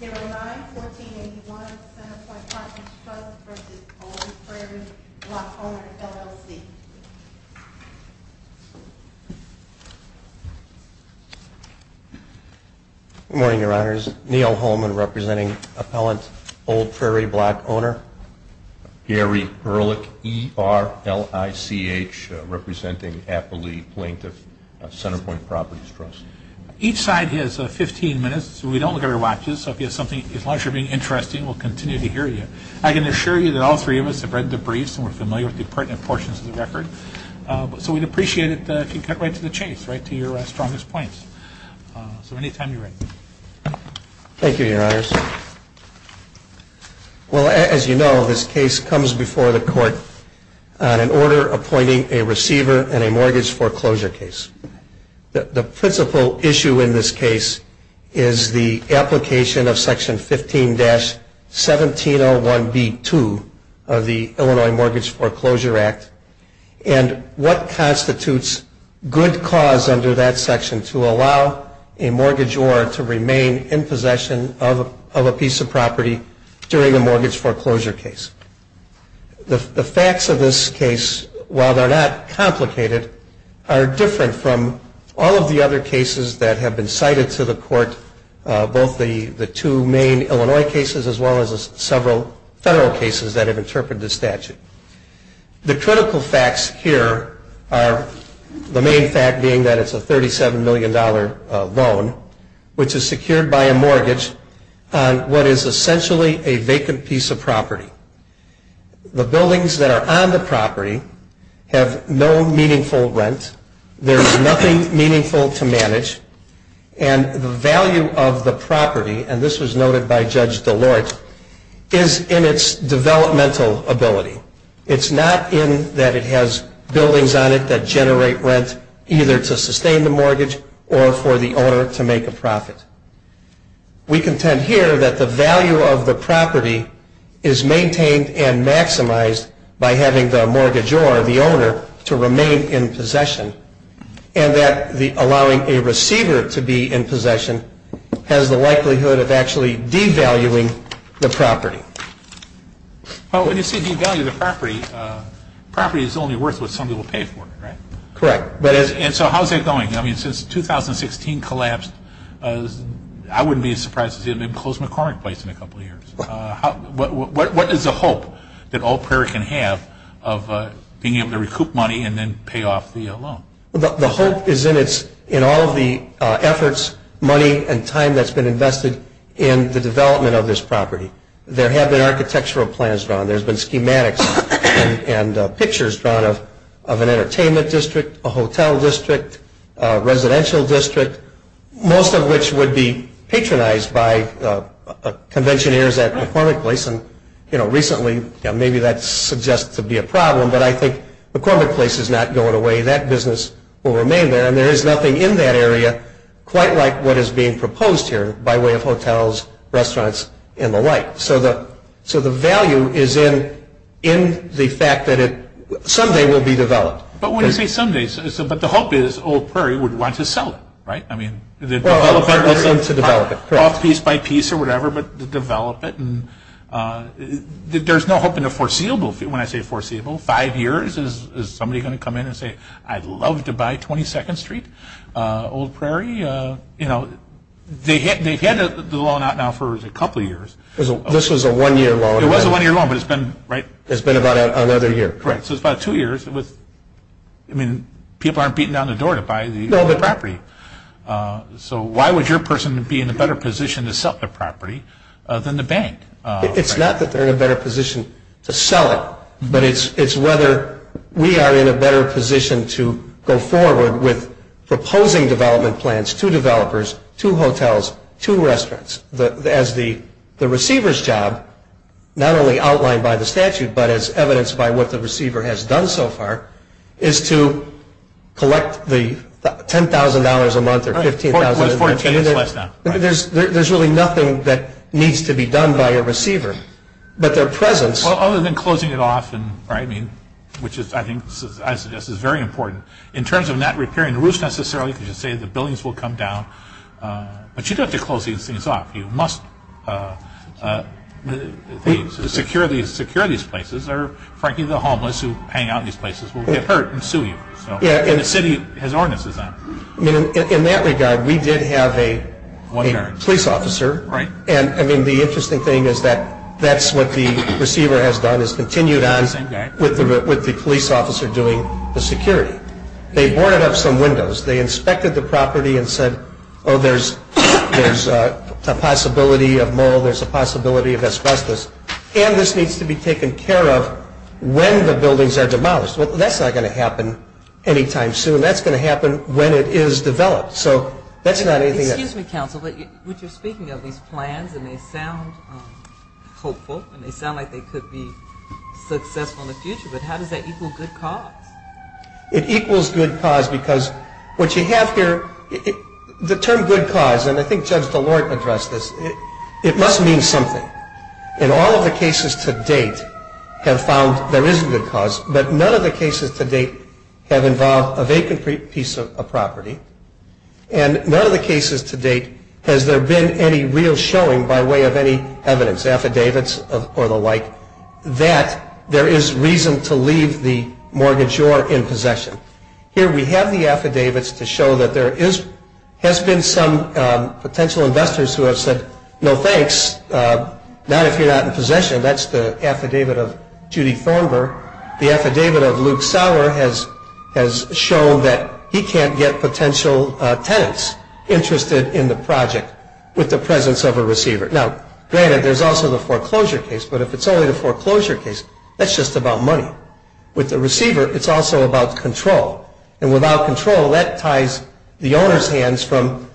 Gary Ehrlich, ERLICH, representing Appalachia Plaintiff CenterPoint Properties Trust. Each side has 15 minutes. We don't look at our watches, so if you have something, as long as you're being interesting, we'll continue to hear you. I can assure you that all three of us have read the briefs and we're familiar with the pertinent portions of the record. So we'd appreciate it if you cut right to the chase, right to your strongest points. So anytime you're ready. Thank you, Your Honors. Well, as you know, this case comes before the court on an order appointing a receiver in a mortgage foreclosure case. The principal issue in this case is the application of Section 15-1701B2 of the Illinois Mortgage Foreclosure Act and what constitutes good cause under that section to allow a mortgagor to remain in possession of a piece of property during a mortgage foreclosure case. The facts of this case, while they're not complicated, are different from all of the other cases that have been cited to the court, both the two main Illinois cases as well as several federal cases that have interpreted the statute. The critical facts here are the main fact being that it's a $37 million loan, which is secured by a mortgage on what is essentially a vacant piece of property. The buildings that are on the property have no meaningful rent, there's nothing meaningful to manage, and the value of the property, and this was noted by Judge Delort, is in its developmental ability. It's not in that it has buildings on it that generate rent either to sustain the mortgage or for the owner to make a profit. We contend here that the value of the property is maintained and maximized by having the mortgagor, the owner, to remain in possession and that allowing a receiver to be in possession has the likelihood of actually devaluing the property. Well, when you say devalue the property, property is only worth what somebody will pay for it, right? Correct. And so how's that going? I mean, since 2016 collapsed, I wouldn't be as surprised to see an enclosed McCormick place in a couple of years. What is the hope that All Prairie can have of being able to recoup money and then pay off the loan? The hope is in all of the efforts, money, and time that's been invested in the development of this property. There have been architectural plans drawn, there's been schematics and pictures drawn of an entertainment district, a hotel district, a residential district, most of which would be patronized by conventioneers at McCormick Place. And, you know, recently maybe that suggests to be a problem, but I think McCormick Place is not going away. That business will remain there. And there is nothing in that area quite like what is being proposed here by way of hotels, restaurants, and the like. So the value is in the fact that it someday will be developed. But when you say someday, but the hope is All Prairie would want to sell it, right? I mean, develop it piece by piece or whatever, but develop it. There's no hope in the foreseeable. When I say foreseeable, five years, is somebody going to come in and say, I'd love to buy 22nd Street, All Prairie? You know, they've had the loan out now for a couple of years. This was a one-year loan. It was a one-year loan, but it's been, right? It's been about another year. Correct. So it's about two years. I mean, people aren't beating down the door to buy the property. So why would your person be in a better position to sell the property than the bank? It's not that they're in a better position to sell it, but it's whether we are in a better position to go forward with proposing development plans to developers, to hotels, to restaurants as the receiver's job, not only outlined by the statute, but as evidenced by what the receiver has done so far, is to collect the $10,000 a month or $15,000 a month. There's really nothing that needs to be done by a receiver, but their presence. Well, other than closing it off, which I suggest is very important, in terms of not repairing the roofs necessarily, because you say the buildings will come down, but you don't have to close these things off. You must secure these places or, frankly, the homeless who hang out in these places will get hurt and sue you. And the city has ordinances on it. In that regard, we did have a police officer, and the interesting thing is that that's what the receiver has done, has continued on with the police officer doing the security. They boarded up some windows. They inspected the property and said, oh, there's a possibility of mold. There's a possibility of asbestos. And this needs to be taken care of when the buildings are demolished. Well, that's not going to happen any time soon. That's going to happen when it is developed. So that's not anything that's... Excuse me, counsel, but you're speaking of these plans, and they sound hopeful, and they sound like they could be successful in the future, but how does that equal good cause? It equals good cause because what you have here, the term good cause, and I think Judge Delort addressed this, it must mean something. In all of the cases to date have found there is good cause, but none of the cases to date have involved a vacant piece of property, and none of the cases to date has there been any real showing by way of any evidence, affidavits or the like, that there is reason to leave the mortgagor in possession. Here we have the affidavits to show that there has been some potential investors who have said, no thanks, not if you're not in possession. That's the affidavit of Judy Thornbur. The affidavit of Luke Sauer has shown that he can't get potential tenants interested in the project with the presence of a receiver. Now, granted, there's also the foreclosure case, but if it's only the foreclosure case, that's just about money. With the receiver, it's also about control, and without control, that ties the owner's hands from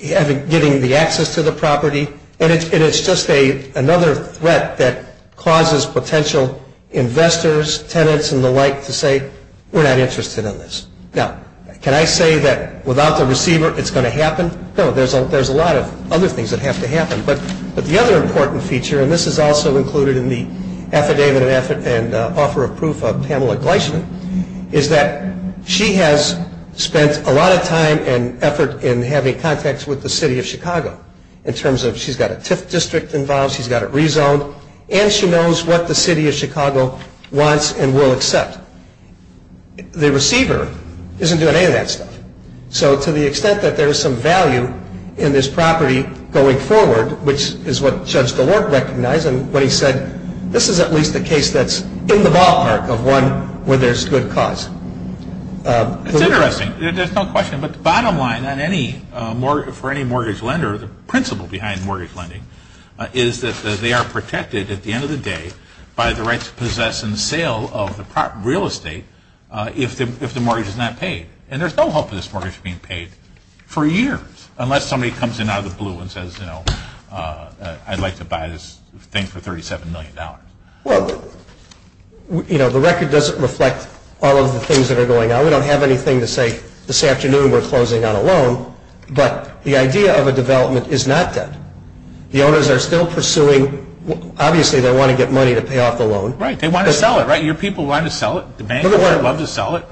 getting the access to the property, and it's just another threat that causes potential investors, tenants and the like to say, we're not interested in this. Now, can I say that without the receiver, it's going to happen? No, there's a lot of other things that have to happen, but the other important feature, and this is also included in the affidavit and offer of proof of Pamela Gleishman, is that she has spent a lot of time and effort in having contacts with the city of Chicago, in terms of she's got a TIF district involved, she's got it rezoned, and she knows what the city of Chicago wants and will accept. The receiver isn't doing any of that stuff. So to the extent that there is some value in this property going forward, which is what Judge Delort recognized when he said, this is at least a case that's in the ballpark of one where there's good cause. It's interesting. There's no question, but the bottom line for any mortgage lender, the principle behind mortgage lending is that they are protected at the end of the day by the right to possess and sale of the real estate if the mortgage is not paid, and there's no hope of this mortgage being paid for years, unless somebody comes in out of the blue and says, you know, I'd like to buy this thing for $37 million. Well, you know, the record doesn't reflect all of the things that are going on. We don't have anything to say this afternoon we're closing on a loan, but the idea of a development is not that. The owners are still pursuing, obviously they want to get money to pay off the loan. Right. They want to sell it, right? Your people want to sell it. The bank would love to sell it.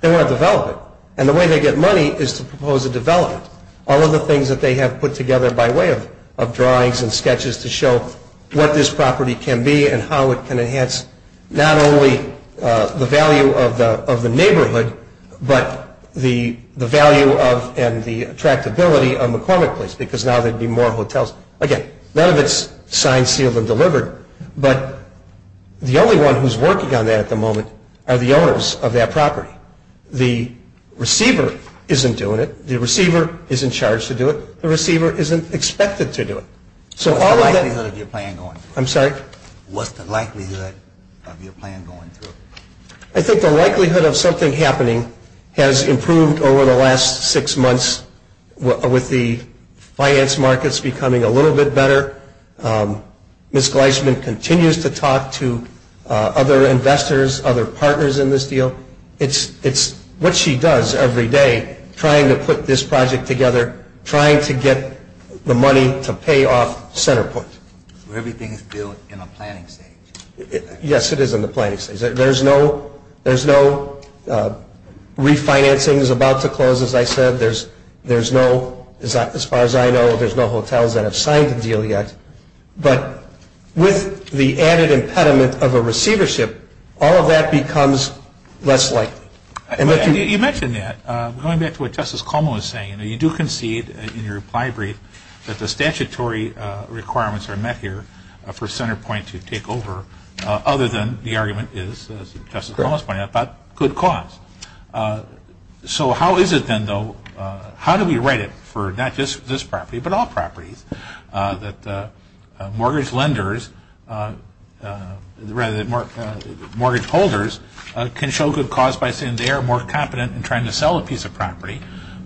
They want to develop it, and the way they get money is to propose a development. All of the things that they have put together by way of drawings and sketches to show what this property can be and how it can enhance not only the value of the neighborhood, but the value of and the attractability of McCormick Place, because now there would be more hotels. Again, none of it's signed, sealed, and delivered, but the only one who's working on that at the moment are the owners of that property. The receiver isn't doing it. The receiver isn't charged to do it. The receiver isn't expected to do it. What's the likelihood of your plan going through? I'm sorry? What's the likelihood of your plan going through? I think the likelihood of something happening has improved over the last six months with the finance markets becoming a little bit better. Ms. Gleisman continues to talk to other investors, other partners in this deal. It's what she does every day, trying to put this project together, trying to get the money to pay off Centerpoint. So everything is built in a planning stage. Yes, it is in the planning stage. There's no refinancing is about to close, as I said. As far as I know, there's no hotels that have signed the deal yet. But with the added impediment of a receivership, all of that becomes less likely. You mentioned that. Going back to what Justice Cuomo was saying, you do concede in your reply brief that the statutory requirements are met here for Centerpoint to take over, other than the argument is, as Justice Cuomo is pointing out, about good cause. So how is it then, though, how do we write it for not just this property, but all properties, that mortgage lenders, rather than mortgage holders, can show good cause by saying they are more competent in trying to sell a piece of property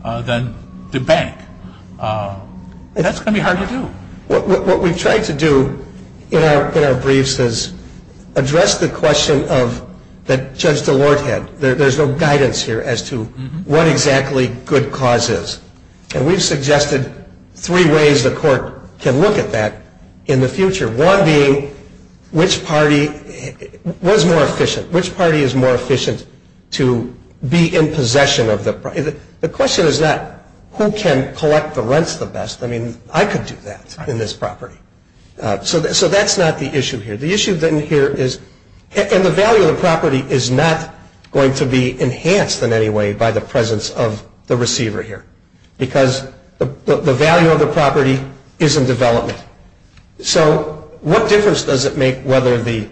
than the bank? That's going to be hard to do. What we've tried to do in our briefs is address the question that Judge DeLorde had. There's no guidance here as to what exactly good cause is. And we've suggested three ways the court can look at that in the future, one being which party was more efficient, which party is more efficient to be in possession of the property. The question is not who can collect the rents the best. I mean, I could do that in this property. So that's not the issue here. The issue then here is, and the value of the property is not going to be enhanced in any way by the presence of the receiver here, because the value of the property is in development. So what difference does it make whether the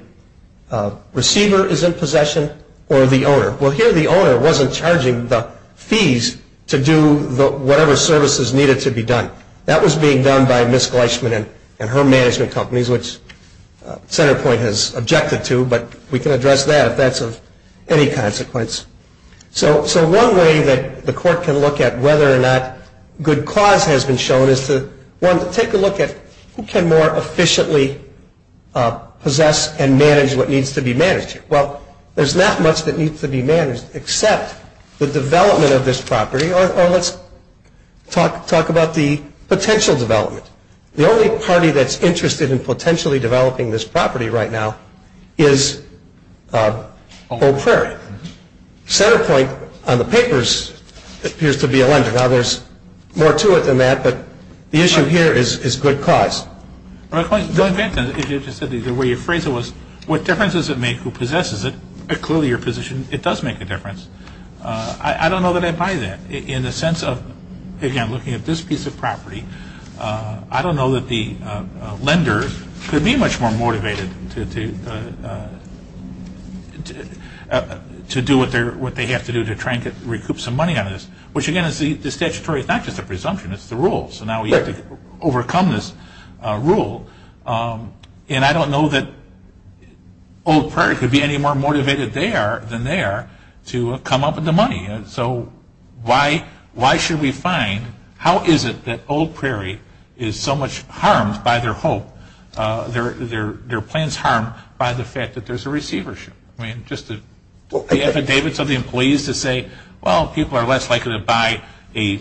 receiver is in possession or the owner? Well, here the owner wasn't charging the fees to do whatever services needed to be done. That was being done by Ms. Gleichman and her management companies, which Senator Point has objected to, but we can address that if that's of any consequence. So one way that the court can look at whether or not good cause has been shown is to take a look at who can more efficiently possess and manage what needs to be managed. Well, there's not much that needs to be managed except the development of this property. Let's talk about the potential development. The only party that's interested in potentially developing this property right now is Old Prairie. Senator Point, on the papers, appears to be a lender. Now, there's more to it than that, but the issue here is good cause. The way you phrased it was, what difference does it make who possesses it? Clearly, your position, it does make a difference. I don't know that I buy that in the sense of, again, looking at this piece of property. I don't know that the lenders could be much more motivated to do what they have to do to try and recoup some money on this, which, again, the statutory is not just a presumption, it's the rule. So now we have to overcome this rule, and I don't know that Old Prairie could be any more motivated there than they are to come up with the money. So why should we find, how is it that Old Prairie is so much harmed by their hope, their plans harmed by the fact that there's a receivership? Just the affidavits of the employees to say, well, people are less likely to buy a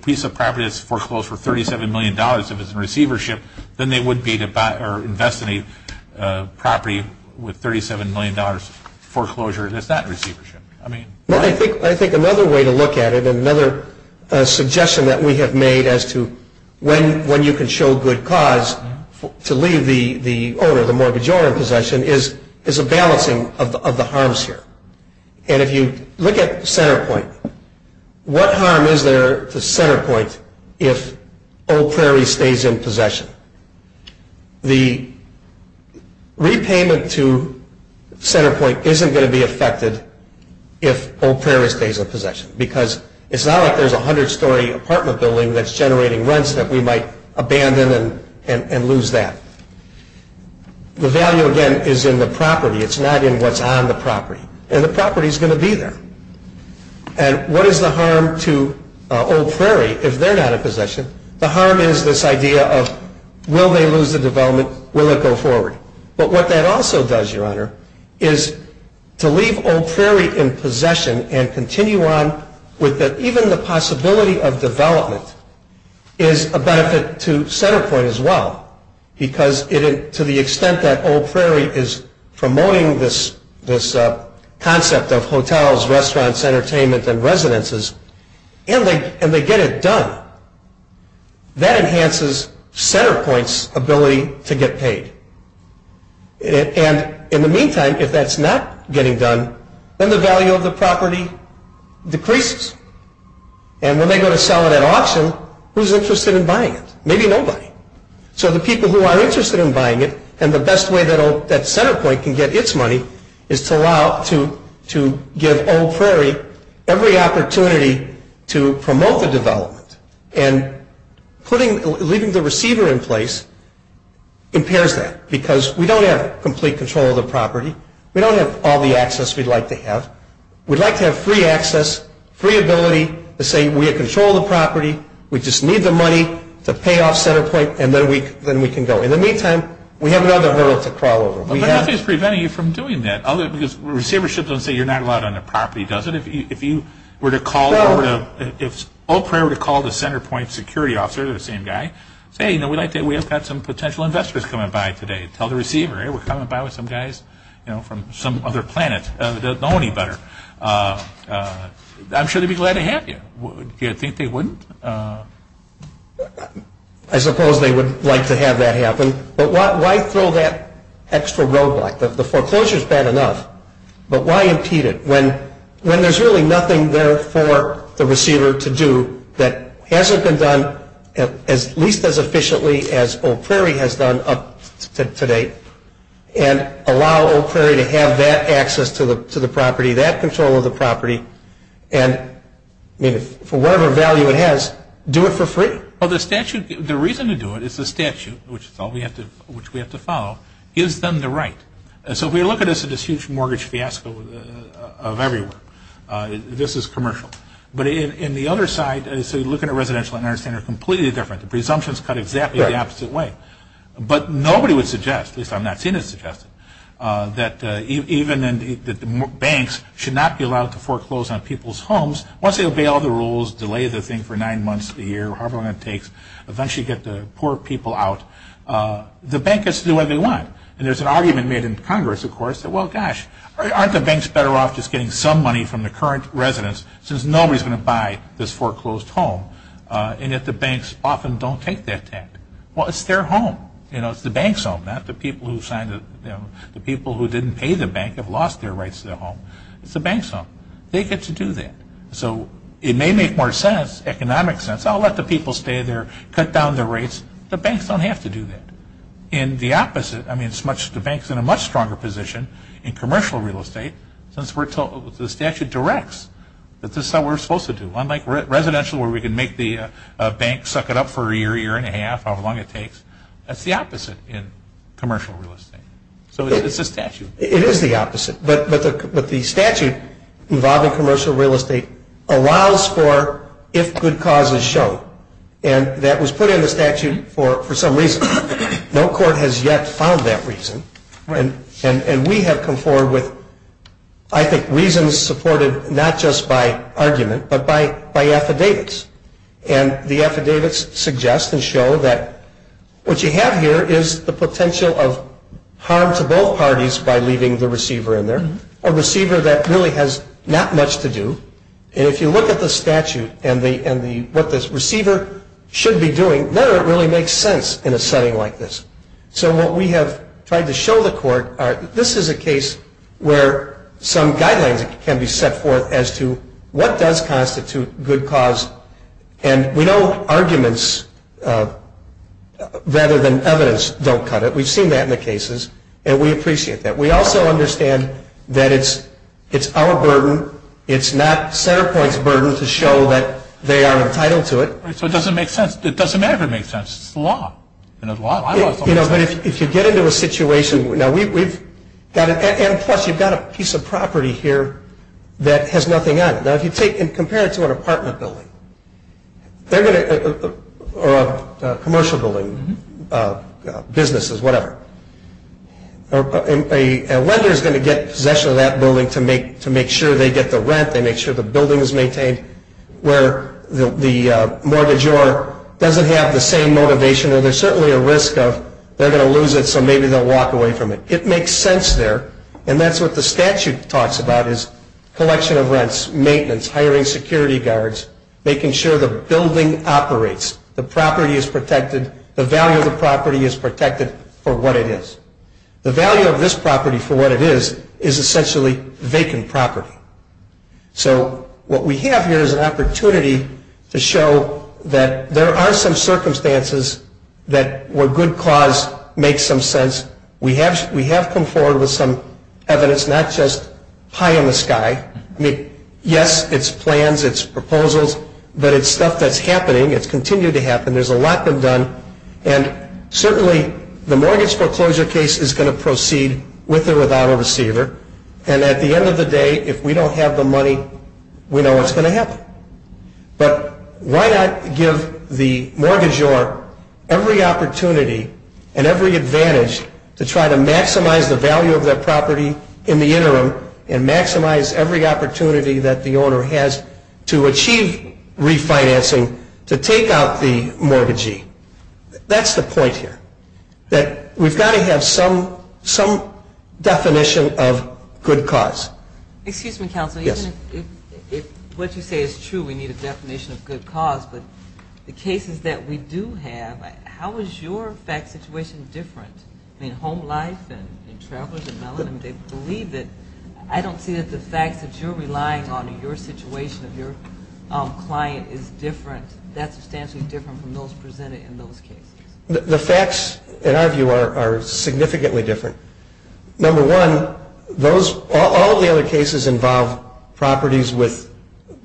piece of property that's foreclosed for $37 million if it's in receivership than they would be to invest in a property with $37 million foreclosure that's not in receivership. I think another way to look at it and another suggestion that we have made as to when you can show good cause to leave the owner, the mortgage owner, in possession is a balancing of the harms here. And if you look at Centerpoint, what harm is there to Centerpoint if Old Prairie stays in possession? The repayment to Centerpoint isn't going to be affected if Old Prairie stays in possession because it's not like there's a 100-story apartment building that's generating rents that we might abandon and lose that. The value, again, is in the property. It's not in what's on the property. And the property is going to be there. And what is the harm to Old Prairie if they're not in possession? The harm is this idea of will they lose the development? Will it go forward? But what that also does, Your Honor, is to leave Old Prairie in possession and continue on with even the possibility of development is a benefit to Centerpoint as well because to the extent that Old Prairie is promoting this concept of hotels, restaurants, entertainment, and residences, and they get it done, that enhances Centerpoint's ability to get paid. And in the meantime, if that's not getting done, then the value of the property decreases. And when they go to sell it at auction, who's interested in buying it? Maybe nobody. So the people who are interested in buying it, and the best way that Centerpoint can get its money is to give Old Prairie every opportunity to promote the development. And leaving the receiver in place impairs that because we don't have complete control of the property. We don't have all the access we'd like to have. We'd like to have free access, free ability to say we control the property. We just need the money to pay off Centerpoint, and then we can go. In the meantime, we have another hurdle to crawl over. But nothing is preventing you from doing that. Receivership doesn't say you're not allowed on the property, does it? If Old Prairie were to call the Centerpoint security officer, the same guy, say, you know, we've got some potential investors coming by today. Tell the receiver, hey, we're coming by with some guys from some other planet. They don't know any better. I'm sure they'd be glad to have you. Do you think they wouldn't? I suppose they would like to have that happen. But why throw that extra roadblock? The foreclosure is bad enough, but why impede it when there's really nothing there for the receiver to do that hasn't been done at least as efficiently as Old Prairie has done up to date and allow Old Prairie to have that access to the property, that control of the property. And for whatever value it has, do it for free. Well, the reason to do it is the statute, which we have to follow, gives them the right. So if we look at this as this huge mortgage fiasco of everywhere, this is commercial. But in the other side, so you look at a residential and an understand they're completely different. The presumptions cut exactly the opposite way. But nobody would suggest, at least I'm not seeing it suggested, that banks should not be allowed to foreclose on people's homes. Once they obey all the rules, delay the thing for nine months, a year, however long it takes, eventually get the poor people out, the bank gets to do what they want. And there's an argument made in Congress, of course, that, well, gosh, aren't the banks better off just getting some money from the current residents since nobody's going to buy this foreclosed home, and that the banks often don't take that tax. Well, it's their home. It's the bank's home, not the people who didn't pay the bank have lost their rights to the home. It's the bank's home. They get to do that. So it may make more sense, economic sense, I'll let the people stay there, cut down their rates. The banks don't have to do that. In the opposite, I mean, the bank's in a much stronger position in commercial real estate since the statute directs that this is how we're supposed to do it. Unlike residential where we can make the bank suck it up for a year, year and a half, however long it takes, that's the opposite in commercial real estate. So it's the statute. It is the opposite. But the statute involving commercial real estate allows for if good cause is shown. And that was put in the statute for some reason. No court has yet found that reason. And we have come forward with, I think, reasons supported not just by argument but by affidavits. And the affidavits suggest and show that what you have here is the potential of harm to both parties by leaving the receiver in there, a receiver that really has not much to do. And if you look at the statute and what the receiver should be doing, then it really makes sense in a setting like this. So what we have tried to show the court, this is a case where some guidelines can be set forth as to what does constitute good cause. And we know arguments rather than evidence don't cut it. We've seen that in the cases. And we appreciate that. We also understand that it's our burden. It's not Centerpoint's burden to show that they are entitled to it. So it doesn't make sense. It doesn't ever make sense. It's the law. You know, the law is always right. You know, but if you get into a situation. And plus, you've got a piece of property here that has nothing on it. Now, if you take and compare it to an apartment building or a commercial building, businesses, whatever, a lender is going to get possession of that building to make sure they get the rent, they make sure the building is maintained, where the mortgagor doesn't have the same motivation or there's certainly a risk of they're going to lose it so maybe they'll walk away from it. It makes sense there. And that's what the statute talks about is collection of rents, maintenance, hiring security guards, making sure the building operates, the property is protected, the value of the property is protected for what it is. The value of this property for what it is is essentially vacant property. So what we have here is an opportunity to show that there are some circumstances that where good cause makes some sense. We have come forward with some evidence, not just pie in the sky. Yes, it's plans, it's proposals, but it's stuff that's happening. It's continued to happen. There's a lot been done. And certainly the mortgage foreclosure case is going to proceed with or without a receiver. And at the end of the day, if we don't have the money, we know what's going to happen. But why not give the mortgagor every opportunity and every advantage to try to maximize the value of their property in the interim and maximize every opportunity that the owner has to achieve refinancing to take out the mortgagee. That's the point here. We've got to have some definition of good cause. Excuse me, counsel. Yes. What you say is true. We need a definition of good cause. But the cases that we do have, how is your fact situation different? I mean, home life and travelers and melanin, they believe that. I don't see that the facts that you're relying on in your situation of your client is different, that substantially different from those presented in those cases. The facts, in our view, are significantly different. Number one, all the other cases involve properties with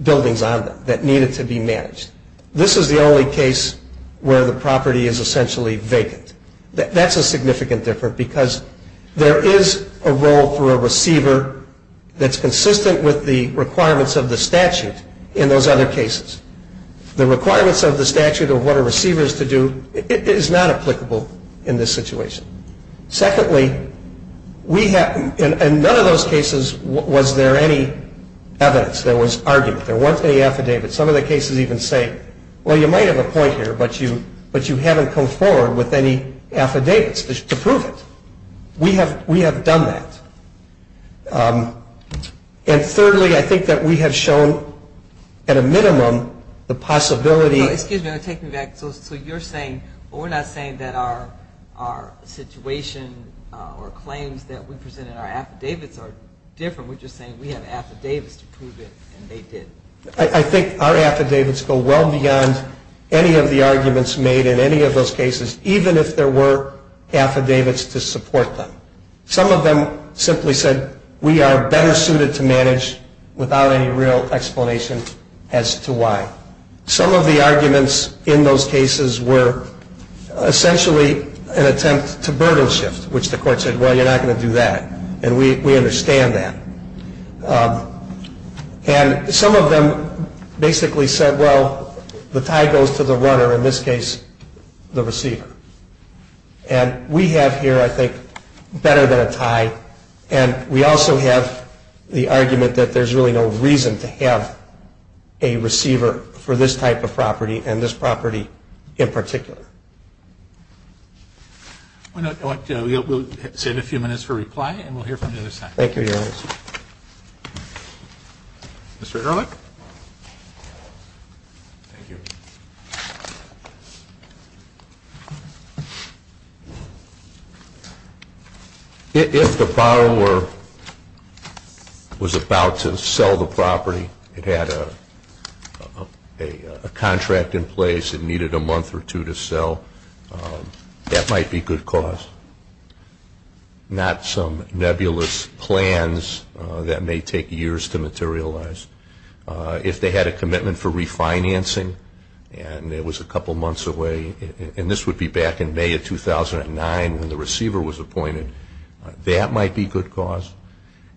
buildings on them that needed to be managed. This is the only case where the property is essentially vacant. That's a significant difference because there is a role for a receiver that's consistent with the requirements of the statute in those other cases. The requirements of the statute of what a receiver is to do is not applicable in this situation. Secondly, in none of those cases was there any evidence. There was argument. There weren't any affidavits. Some of the cases even say, well, you might have a point here, but you haven't come forward with any affidavits to prove it. We have done that. And thirdly, I think that we have shown, at a minimum, the possibility. Excuse me. Take me back. So you're saying we're not saying that our situation or claims that we present in our affidavits are different. We're just saying we have affidavits to prove it, and they did. I think our affidavits go well beyond any of the arguments made in any of those cases, even if there were affidavits to support them. Some of them simply said we are better suited to manage without any real explanation as to why. Some of the arguments in those cases were essentially an attempt to burden shift, which the court said, well, you're not going to do that, and we understand that. And some of them basically said, well, the tie goes to the runner, in this case the receiver. And we have here, I think, better than a tie, and we also have the argument that there's really no reason to have a receiver for this type of property and this property in particular. We'll save a few minutes for reply, and we'll hear from you this time. Thank you, Your Honor. Mr. Ehrlich. Thank you. If the borrower was about to sell the property, it had a contract in place, it needed a month or two to sell, that might be good cause, not some nebulous plans that may take years to materialize. If they had a commitment for refinancing and it was a couple months away, and this would be back in May of 2009 when the receiver was appointed, that might be good cause.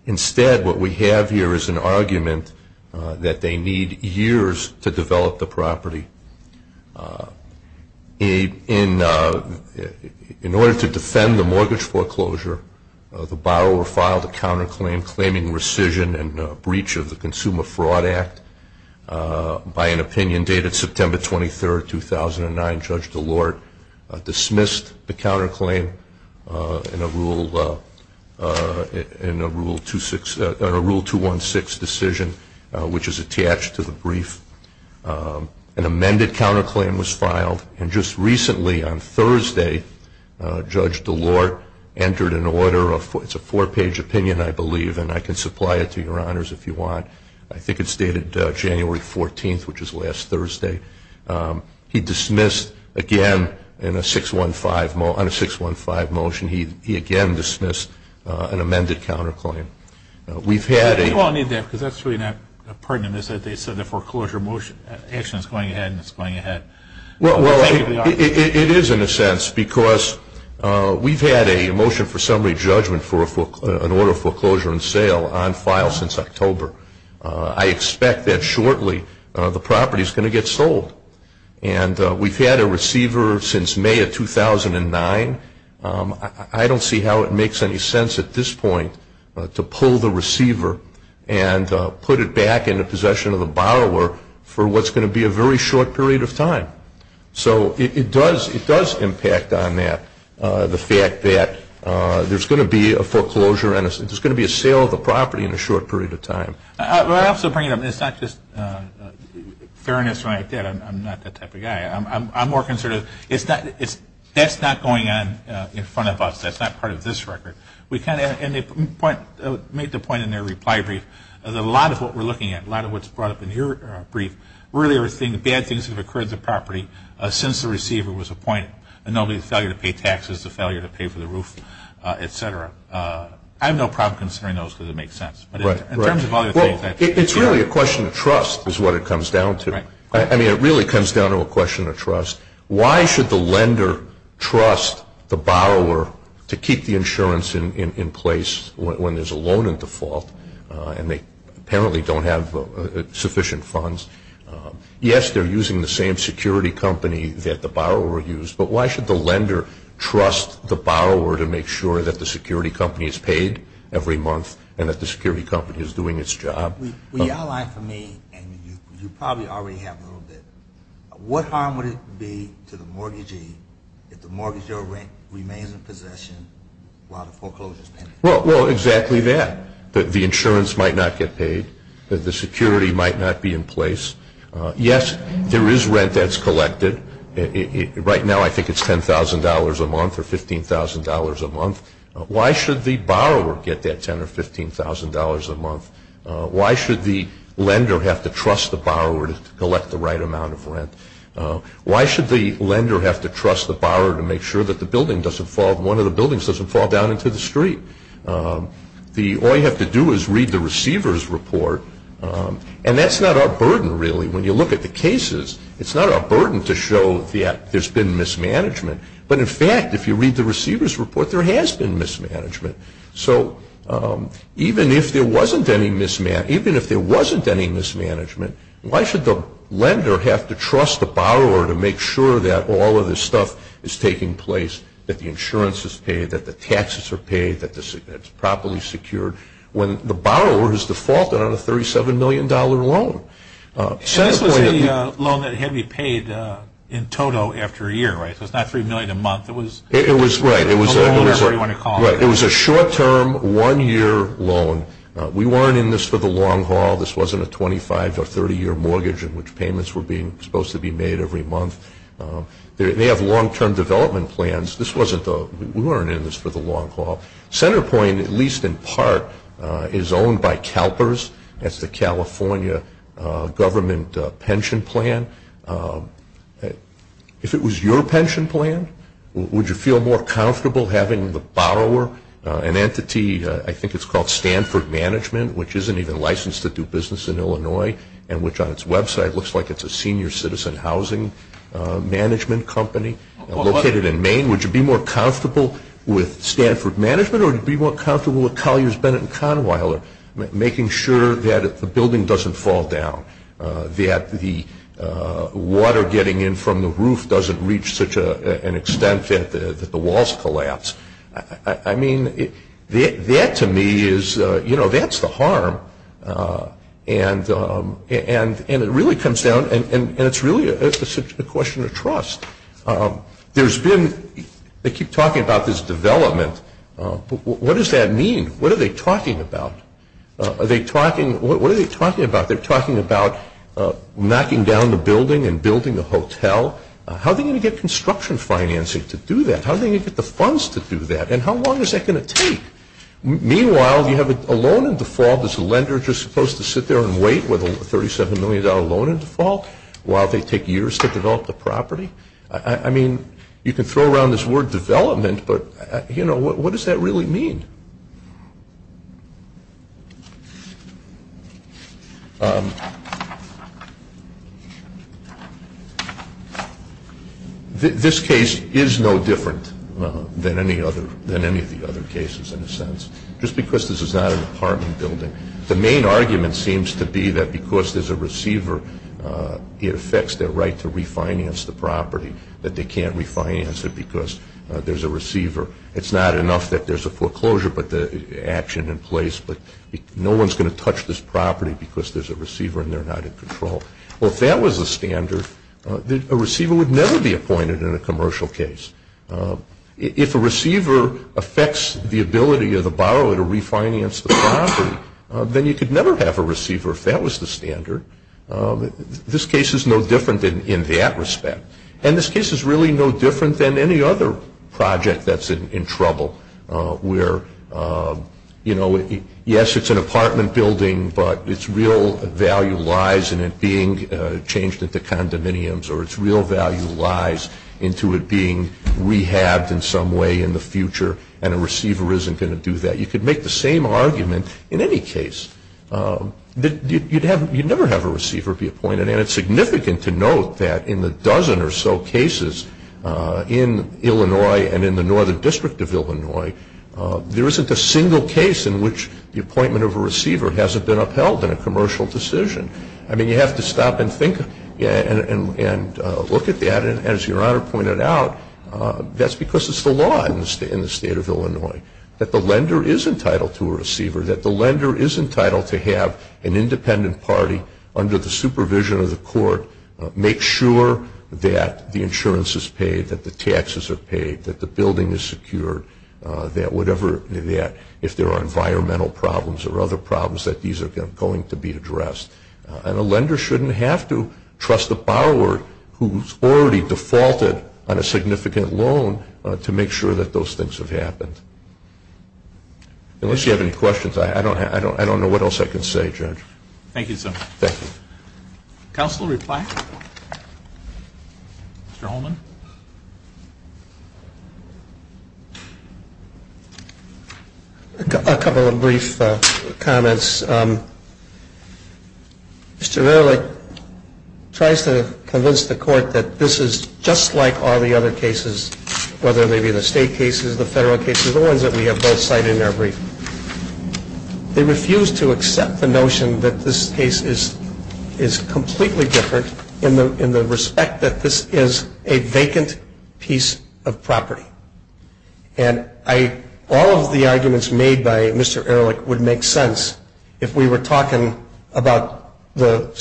Instead, what we have here is an argument that they need years to develop the property. In order to defend the mortgage foreclosure, the borrower filed a counterclaim claiming rescission and breach of the Consumer Fraud Act by an opinion dated September 23, 2009. Judge DeLorde dismissed the counterclaim in a Rule 216 decision, which is attached to the brief. An amended counterclaim was filed, and just recently on Thursday, Judge DeLorde entered an order, it's a four-page opinion, I believe, and I can supply it to Your Honors if you want. I think it's dated January 14th, which is last Thursday. He dismissed, again, on a 615 motion, he again dismissed an amended counterclaim. We've had a motion for summary judgment for an order of foreclosure and sale on file since October. I expect that shortly the property is going to get sold, and we've had a receiver since May of 2009. I don't see how it makes any sense at this point to pull the receiver and put it back into possession of the borrower for what's going to be a very short period of time. So it does impact on that, the fact that there's going to be a foreclosure and there's going to be a sale of the property in a short period of time. We're also bringing up, it's not just fairness when I did, I'm not that type of guy. I'm more concerned, that's not going on in front of us, that's not part of this record. We kind of made the point in their reply brief that a lot of what we're looking at, a lot of what's brought up in your brief, really are bad things that have occurred to the property since the receiver was appointed. And they'll be the failure to pay taxes, the failure to pay for the roof, et cetera. I have no problem considering those because it makes sense. It's really a question of trust is what it comes down to. I mean, it really comes down to a question of trust. Why should the lender trust the borrower to keep the insurance in place when there's a loan in default and they apparently don't have sufficient funds? Yes, they're using the same security company that the borrower used, but why should the lender trust the borrower to make sure that the security company is paid every month and that the security company is doing its job? Well, you outlined for me, and you probably already have a little bit, what harm would it be to the mortgagee if the mortgagee or rent remains in possession while the foreclosure is pending? Well, exactly that, that the insurance might not get paid, that the security might not be in place. Yes, there is rent that's collected. Right now, I think it's $10,000 a month or $15,000 a month. Why should the borrower get that $10,000 or $15,000 a month? Why should the lender have to trust the borrower to collect the right amount of rent? Why should the lender have to trust the borrower to make sure that the building doesn't fall, one of the buildings doesn't fall down into the street? All you have to do is read the receiver's report, and that's not our burden really. When you look at the cases, it's not our burden to show that there's been mismanagement, but in fact, if you read the receiver's report, there has been mismanagement. So even if there wasn't any mismanagement, why should the lender have to trust the borrower to make sure that all of this stuff is taking place, that the insurance is paid, that the taxes are paid, that it's properly secured, when the borrower has defaulted on a $37 million loan? This was a loan that had to be paid in total after a year, right? So it's not $3 million a month. It was a short-term, one-year loan. We weren't in this for the long haul. This wasn't a 25- or 30-year mortgage in which payments were supposed to be made every month. They have long-term development plans. We weren't in this for the long haul. CenterPoint, at least in part, is owned by CalPERS. That's the California government pension plan. If it was your pension plan, would you feel more comfortable having the borrower, an entity, I think it's called Stanford Management, which isn't even licensed to do business in Illinois and which on its website looks like it's a senior citizen housing management company located in Maine? Would you be more comfortable with Stanford Management or would you be more comfortable with Colliers, Bennett, and Conwiler, making sure that the building doesn't fall down, that the water getting in from the roof doesn't reach such an extent that the walls collapse? I mean, that to me is, you know, that's the harm. And it really comes down, and it's really a question of trust. There's been – they keep talking about this development. What does that mean? What are they talking about? Are they talking – what are they talking about? They're talking about knocking down the building and building a hotel. How are they going to get construction financing to do that? How are they going to get the funds to do that? And how long is that going to take? Meanwhile, you have a loan in default. Is the lender just supposed to sit there and wait with a $37 million loan in default while they take years to develop the property? I mean, you can throw around this word development, but, you know, what does that really mean? This case is no different than any of the other cases in a sense, just because this is not an apartment building. The main argument seems to be that because there's a receiver, it affects their right to refinance the property, that they can't refinance it because there's a receiver. It's not enough that there's a foreclosure, but the action in place, but no one's going to touch this property because there's a receiver and they're not in control. Well, if that was the standard, a receiver would never be appointed in a commercial case. If a receiver affects the ability of the borrower to refinance the property, then you could never have a receiver if that was the standard. This case is no different in that respect. And this case is really no different than any other project that's in trouble where, you know, yes, it's an apartment building, but its real value lies in it being changed into condominiums or its real value lies into it being rehabbed in some way in the future, and a receiver isn't going to do that. You could make the same argument in any case. You'd never have a receiver be appointed, and it's significant to note that in the dozen or so cases in Illinois and in the Northern District of Illinois, there isn't a single case in which the appointment of a receiver hasn't been upheld in a commercial decision. I mean, you have to stop and think and look at that, and as Your Honor pointed out, that's because it's the law in the state of Illinois that the lender is entitled to a receiver, that the lender is entitled to have an independent party under the supervision of the court make sure that the insurance is paid, that the taxes are paid, that the building is secure, that whatever, if there are environmental problems or other problems, that these are going to be addressed, and a lender shouldn't have to trust a borrower who's already defaulted on a significant loan to make sure that those things have happened. Unless you have any questions, I don't know what else I can say, Judge. Thank you, sir. Thank you. Counsel, reply? Mr. Holman? A couple of brief comments. Mr. Verlick tries to convince the court that this is just like all the other cases, whether they be the state cases, the federal cases, the ones that we have both cited in our brief. They refuse to accept the notion that this case is completely different in the respect that this is a vacant piece of property. And all of the arguments made by Mr. Ehrlich would make sense if we were talking about the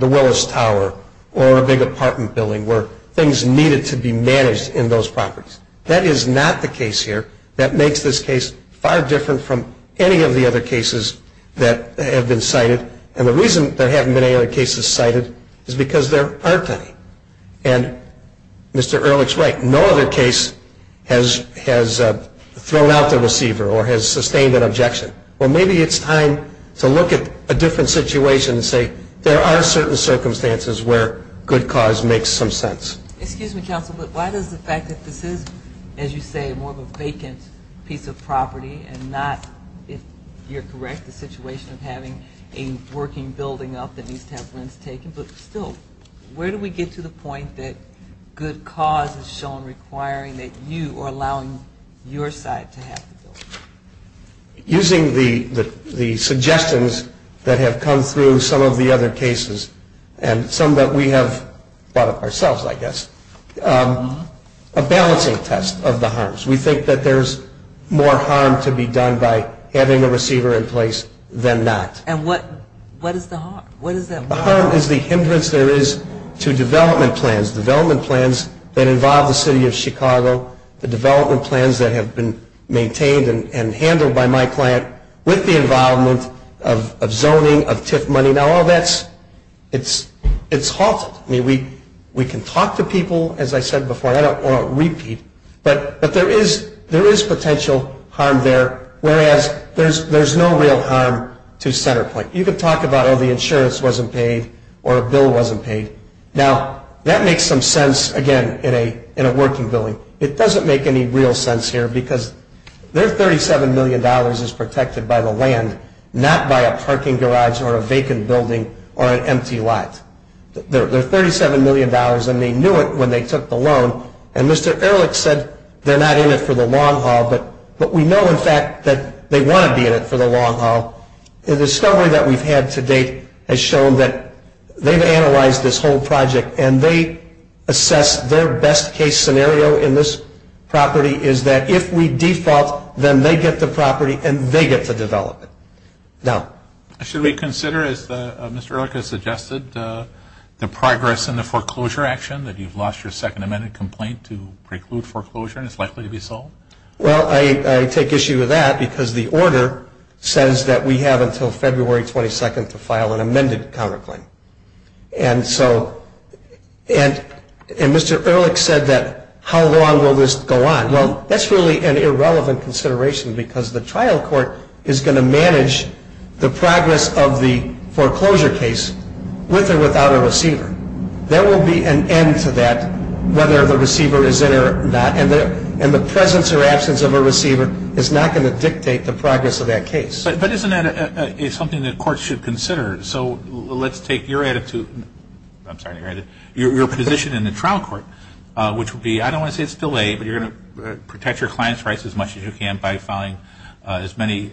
Willis Tower or a big apartment building where things needed to be managed in those properties. That is not the case here. That makes this case far different from any of the other cases that have been cited. And the reason there haven't been any other cases cited is because there aren't any. And Mr. Ehrlich's right. No other case has thrown out the receiver or has sustained an objection. Well, maybe it's time to look at a different situation and say there are certain circumstances where good cause makes some sense. Excuse me, counsel, but why does the fact that this is, as you say, more of a vacant piece of property and not, if you're correct, the situation of having a working building up that needs to have rents taken, but still, where do we get to the point that good cause is shown requiring that you are allowing your side to have the building? Using the suggestions that have come through some of the other cases and some that we have brought up ourselves, I guess, a balancing test of the harms. We think that there's more harm to be done by having a receiver in place than not. And what is the harm? The harm is the hindrance there is to development plans, development plans that involve the city of Chicago, the development plans that have been maintained and handled by my client with the involvement of zoning, of TIF money. Now, all that's, it's halted. I mean, we can talk to people, as I said before, and I don't want to repeat, but there is potential harm there, whereas there's no real harm to CenterPoint. You can talk about, oh, the insurance wasn't paid or a bill wasn't paid. Now, that makes some sense, again, in a working building. It doesn't make any real sense here because their $37 million is protected by the land, not by a parking garage or a vacant building or an empty lot. Their $37 million, and they knew it when they took the loan, and Mr. Ehrlich said they're not in it for the long haul, but we know, in fact, that they want to be in it for the long haul. The discovery that we've had to date has shown that they've analyzed this whole project and they assess their best-case scenario in this property is that if we default, then they get the property and they get the development. Now, should we consider, as Mr. Ehrlich has suggested, the progress in the foreclosure action, that you've lost your second amended complaint to preclude foreclosure and it's likely to be sold? Well, I take issue with that because the order says that we have until February 22nd to file an amended counterclaim, and so, and Mr. Ehrlich said that how long will this go on? Well, that's really an irrelevant consideration because the trial court is going to manage the progress of the foreclosure case with or without a receiver. There will be an end to that, whether the receiver is in or not, and the presence or absence of a receiver is not going to dictate the progress of that case. But isn't that something that courts should consider? So let's take your attitude, I'm sorry, your position in the trial court, which would be, I don't want to say it's delayed, but you're going to protect your client's rights as much as you can by filing as many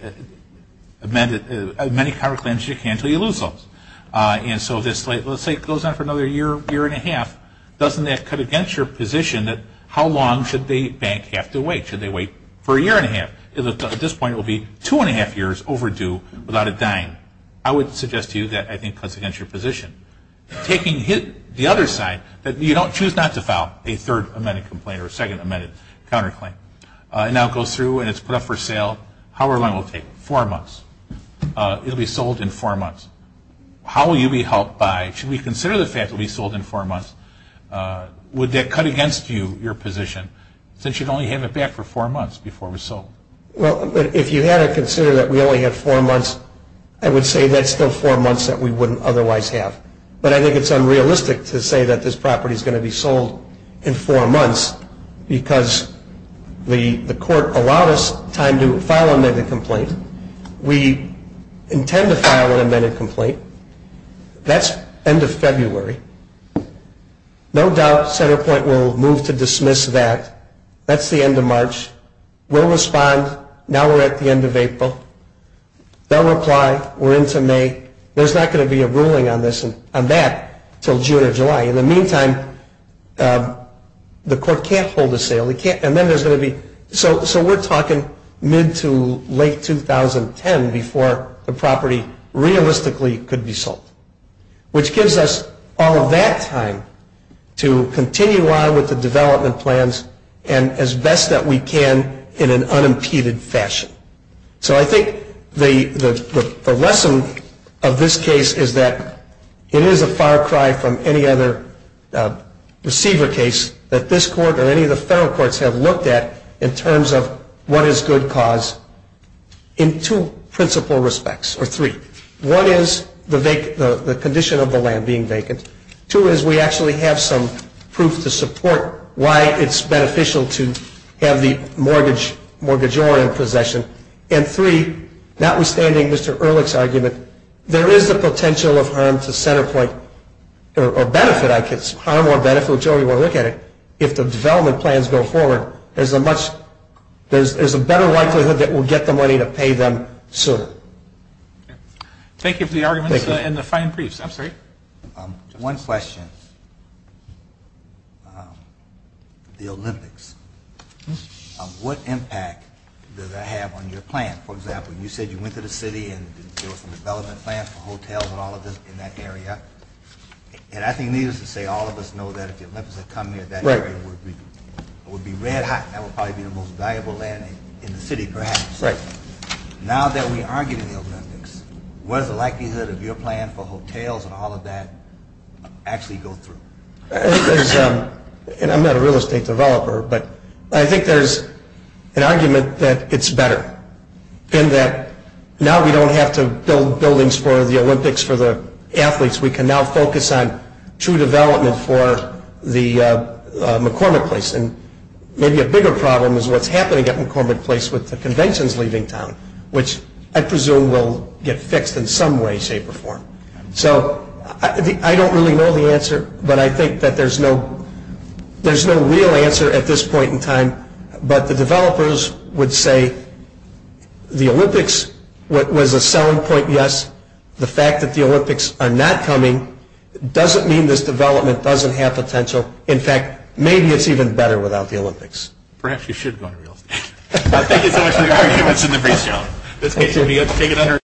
counterclaims as you can until you lose those. And so, let's say it goes on for another year, year and a half, doesn't that cut against your position that how long should the bank have to wait? Should they wait for a year and a half? At this point, it will be two and a half years overdue without it dying. I would suggest to you that I think cuts against your position. Taking the other side, that you don't choose not to file a third amended complaint or a second amended counterclaim. Now it goes through and it's put up for sale, how long will it take? Four months. It will be sold in four months. How will you be helped by, should we consider the fact that it will be sold in four months? Would that cut against you, your position, since you'd only have it back for four months before it was sold? Well, if you had to consider that we only had four months, I would say that's still four months that we wouldn't otherwise have. But I think it's unrealistic to say that this property is going to be sold in four months because the court allowed us time to file an amended complaint. We intend to file an amended complaint. That's end of February. No doubt CenterPoint will move to dismiss that. That's the end of March. We'll respond. Now we're at the end of April. They'll reply. We're into May. There's not going to be a ruling on that until June or July. In the meantime, the court can't hold a sale. So we're talking mid to late 2010 before the property realistically could be sold, which gives us all that time to continue on with the development plans and as best that we can in an unimpeded fashion. So I think the lesson of this case is that it is a far cry from any other receiver case that this court or any of the federal courts have looked at in terms of what is good cause in two principal respects, or three. One is the condition of the land being vacant. Two is we actually have some proof to support why it's beneficial to have the mortgagor in possession. And three, notwithstanding Mr. Ehrlich's argument, there is the potential of harm to CenterPoint, or benefit I guess, harm or benefit, whichever way you want to look at it, if the development plans go forward, there's a better likelihood that we'll get the money to pay them soon. Thank you for the arguments and the fine briefs. I'm sorry. One question. The Olympics, what impact does that have on your plan? For example, you said you went to the city and there was a development plan for hotels and all of this in that area. And I think needless to say, all of us know that if the Olympics had come near that area, it would be red hot. That would probably be the most valuable land in the city perhaps. Right. Now that we are getting the Olympics, what is the likelihood of your plan for hotels and all of that actually go through? I'm not a real estate developer, but I think there's an argument that it's better, in that now we don't have to build buildings for the Olympics for the athletes. We can now focus on true development for the McCormick Place. And maybe a bigger problem is what's happening at McCormick Place with the conventions leaving town, which I presume will get fixed in some way, shape, or form. So I don't really know the answer, but I think that there's no real answer at this point in time. But the developers would say the Olympics was a selling point, yes. The fact that the Olympics are not coming doesn't mean this development doesn't have potential. In fact, maybe it's even better without the Olympics. Perhaps you should go into real estate. Thank you so much for the arguments in the brief, John.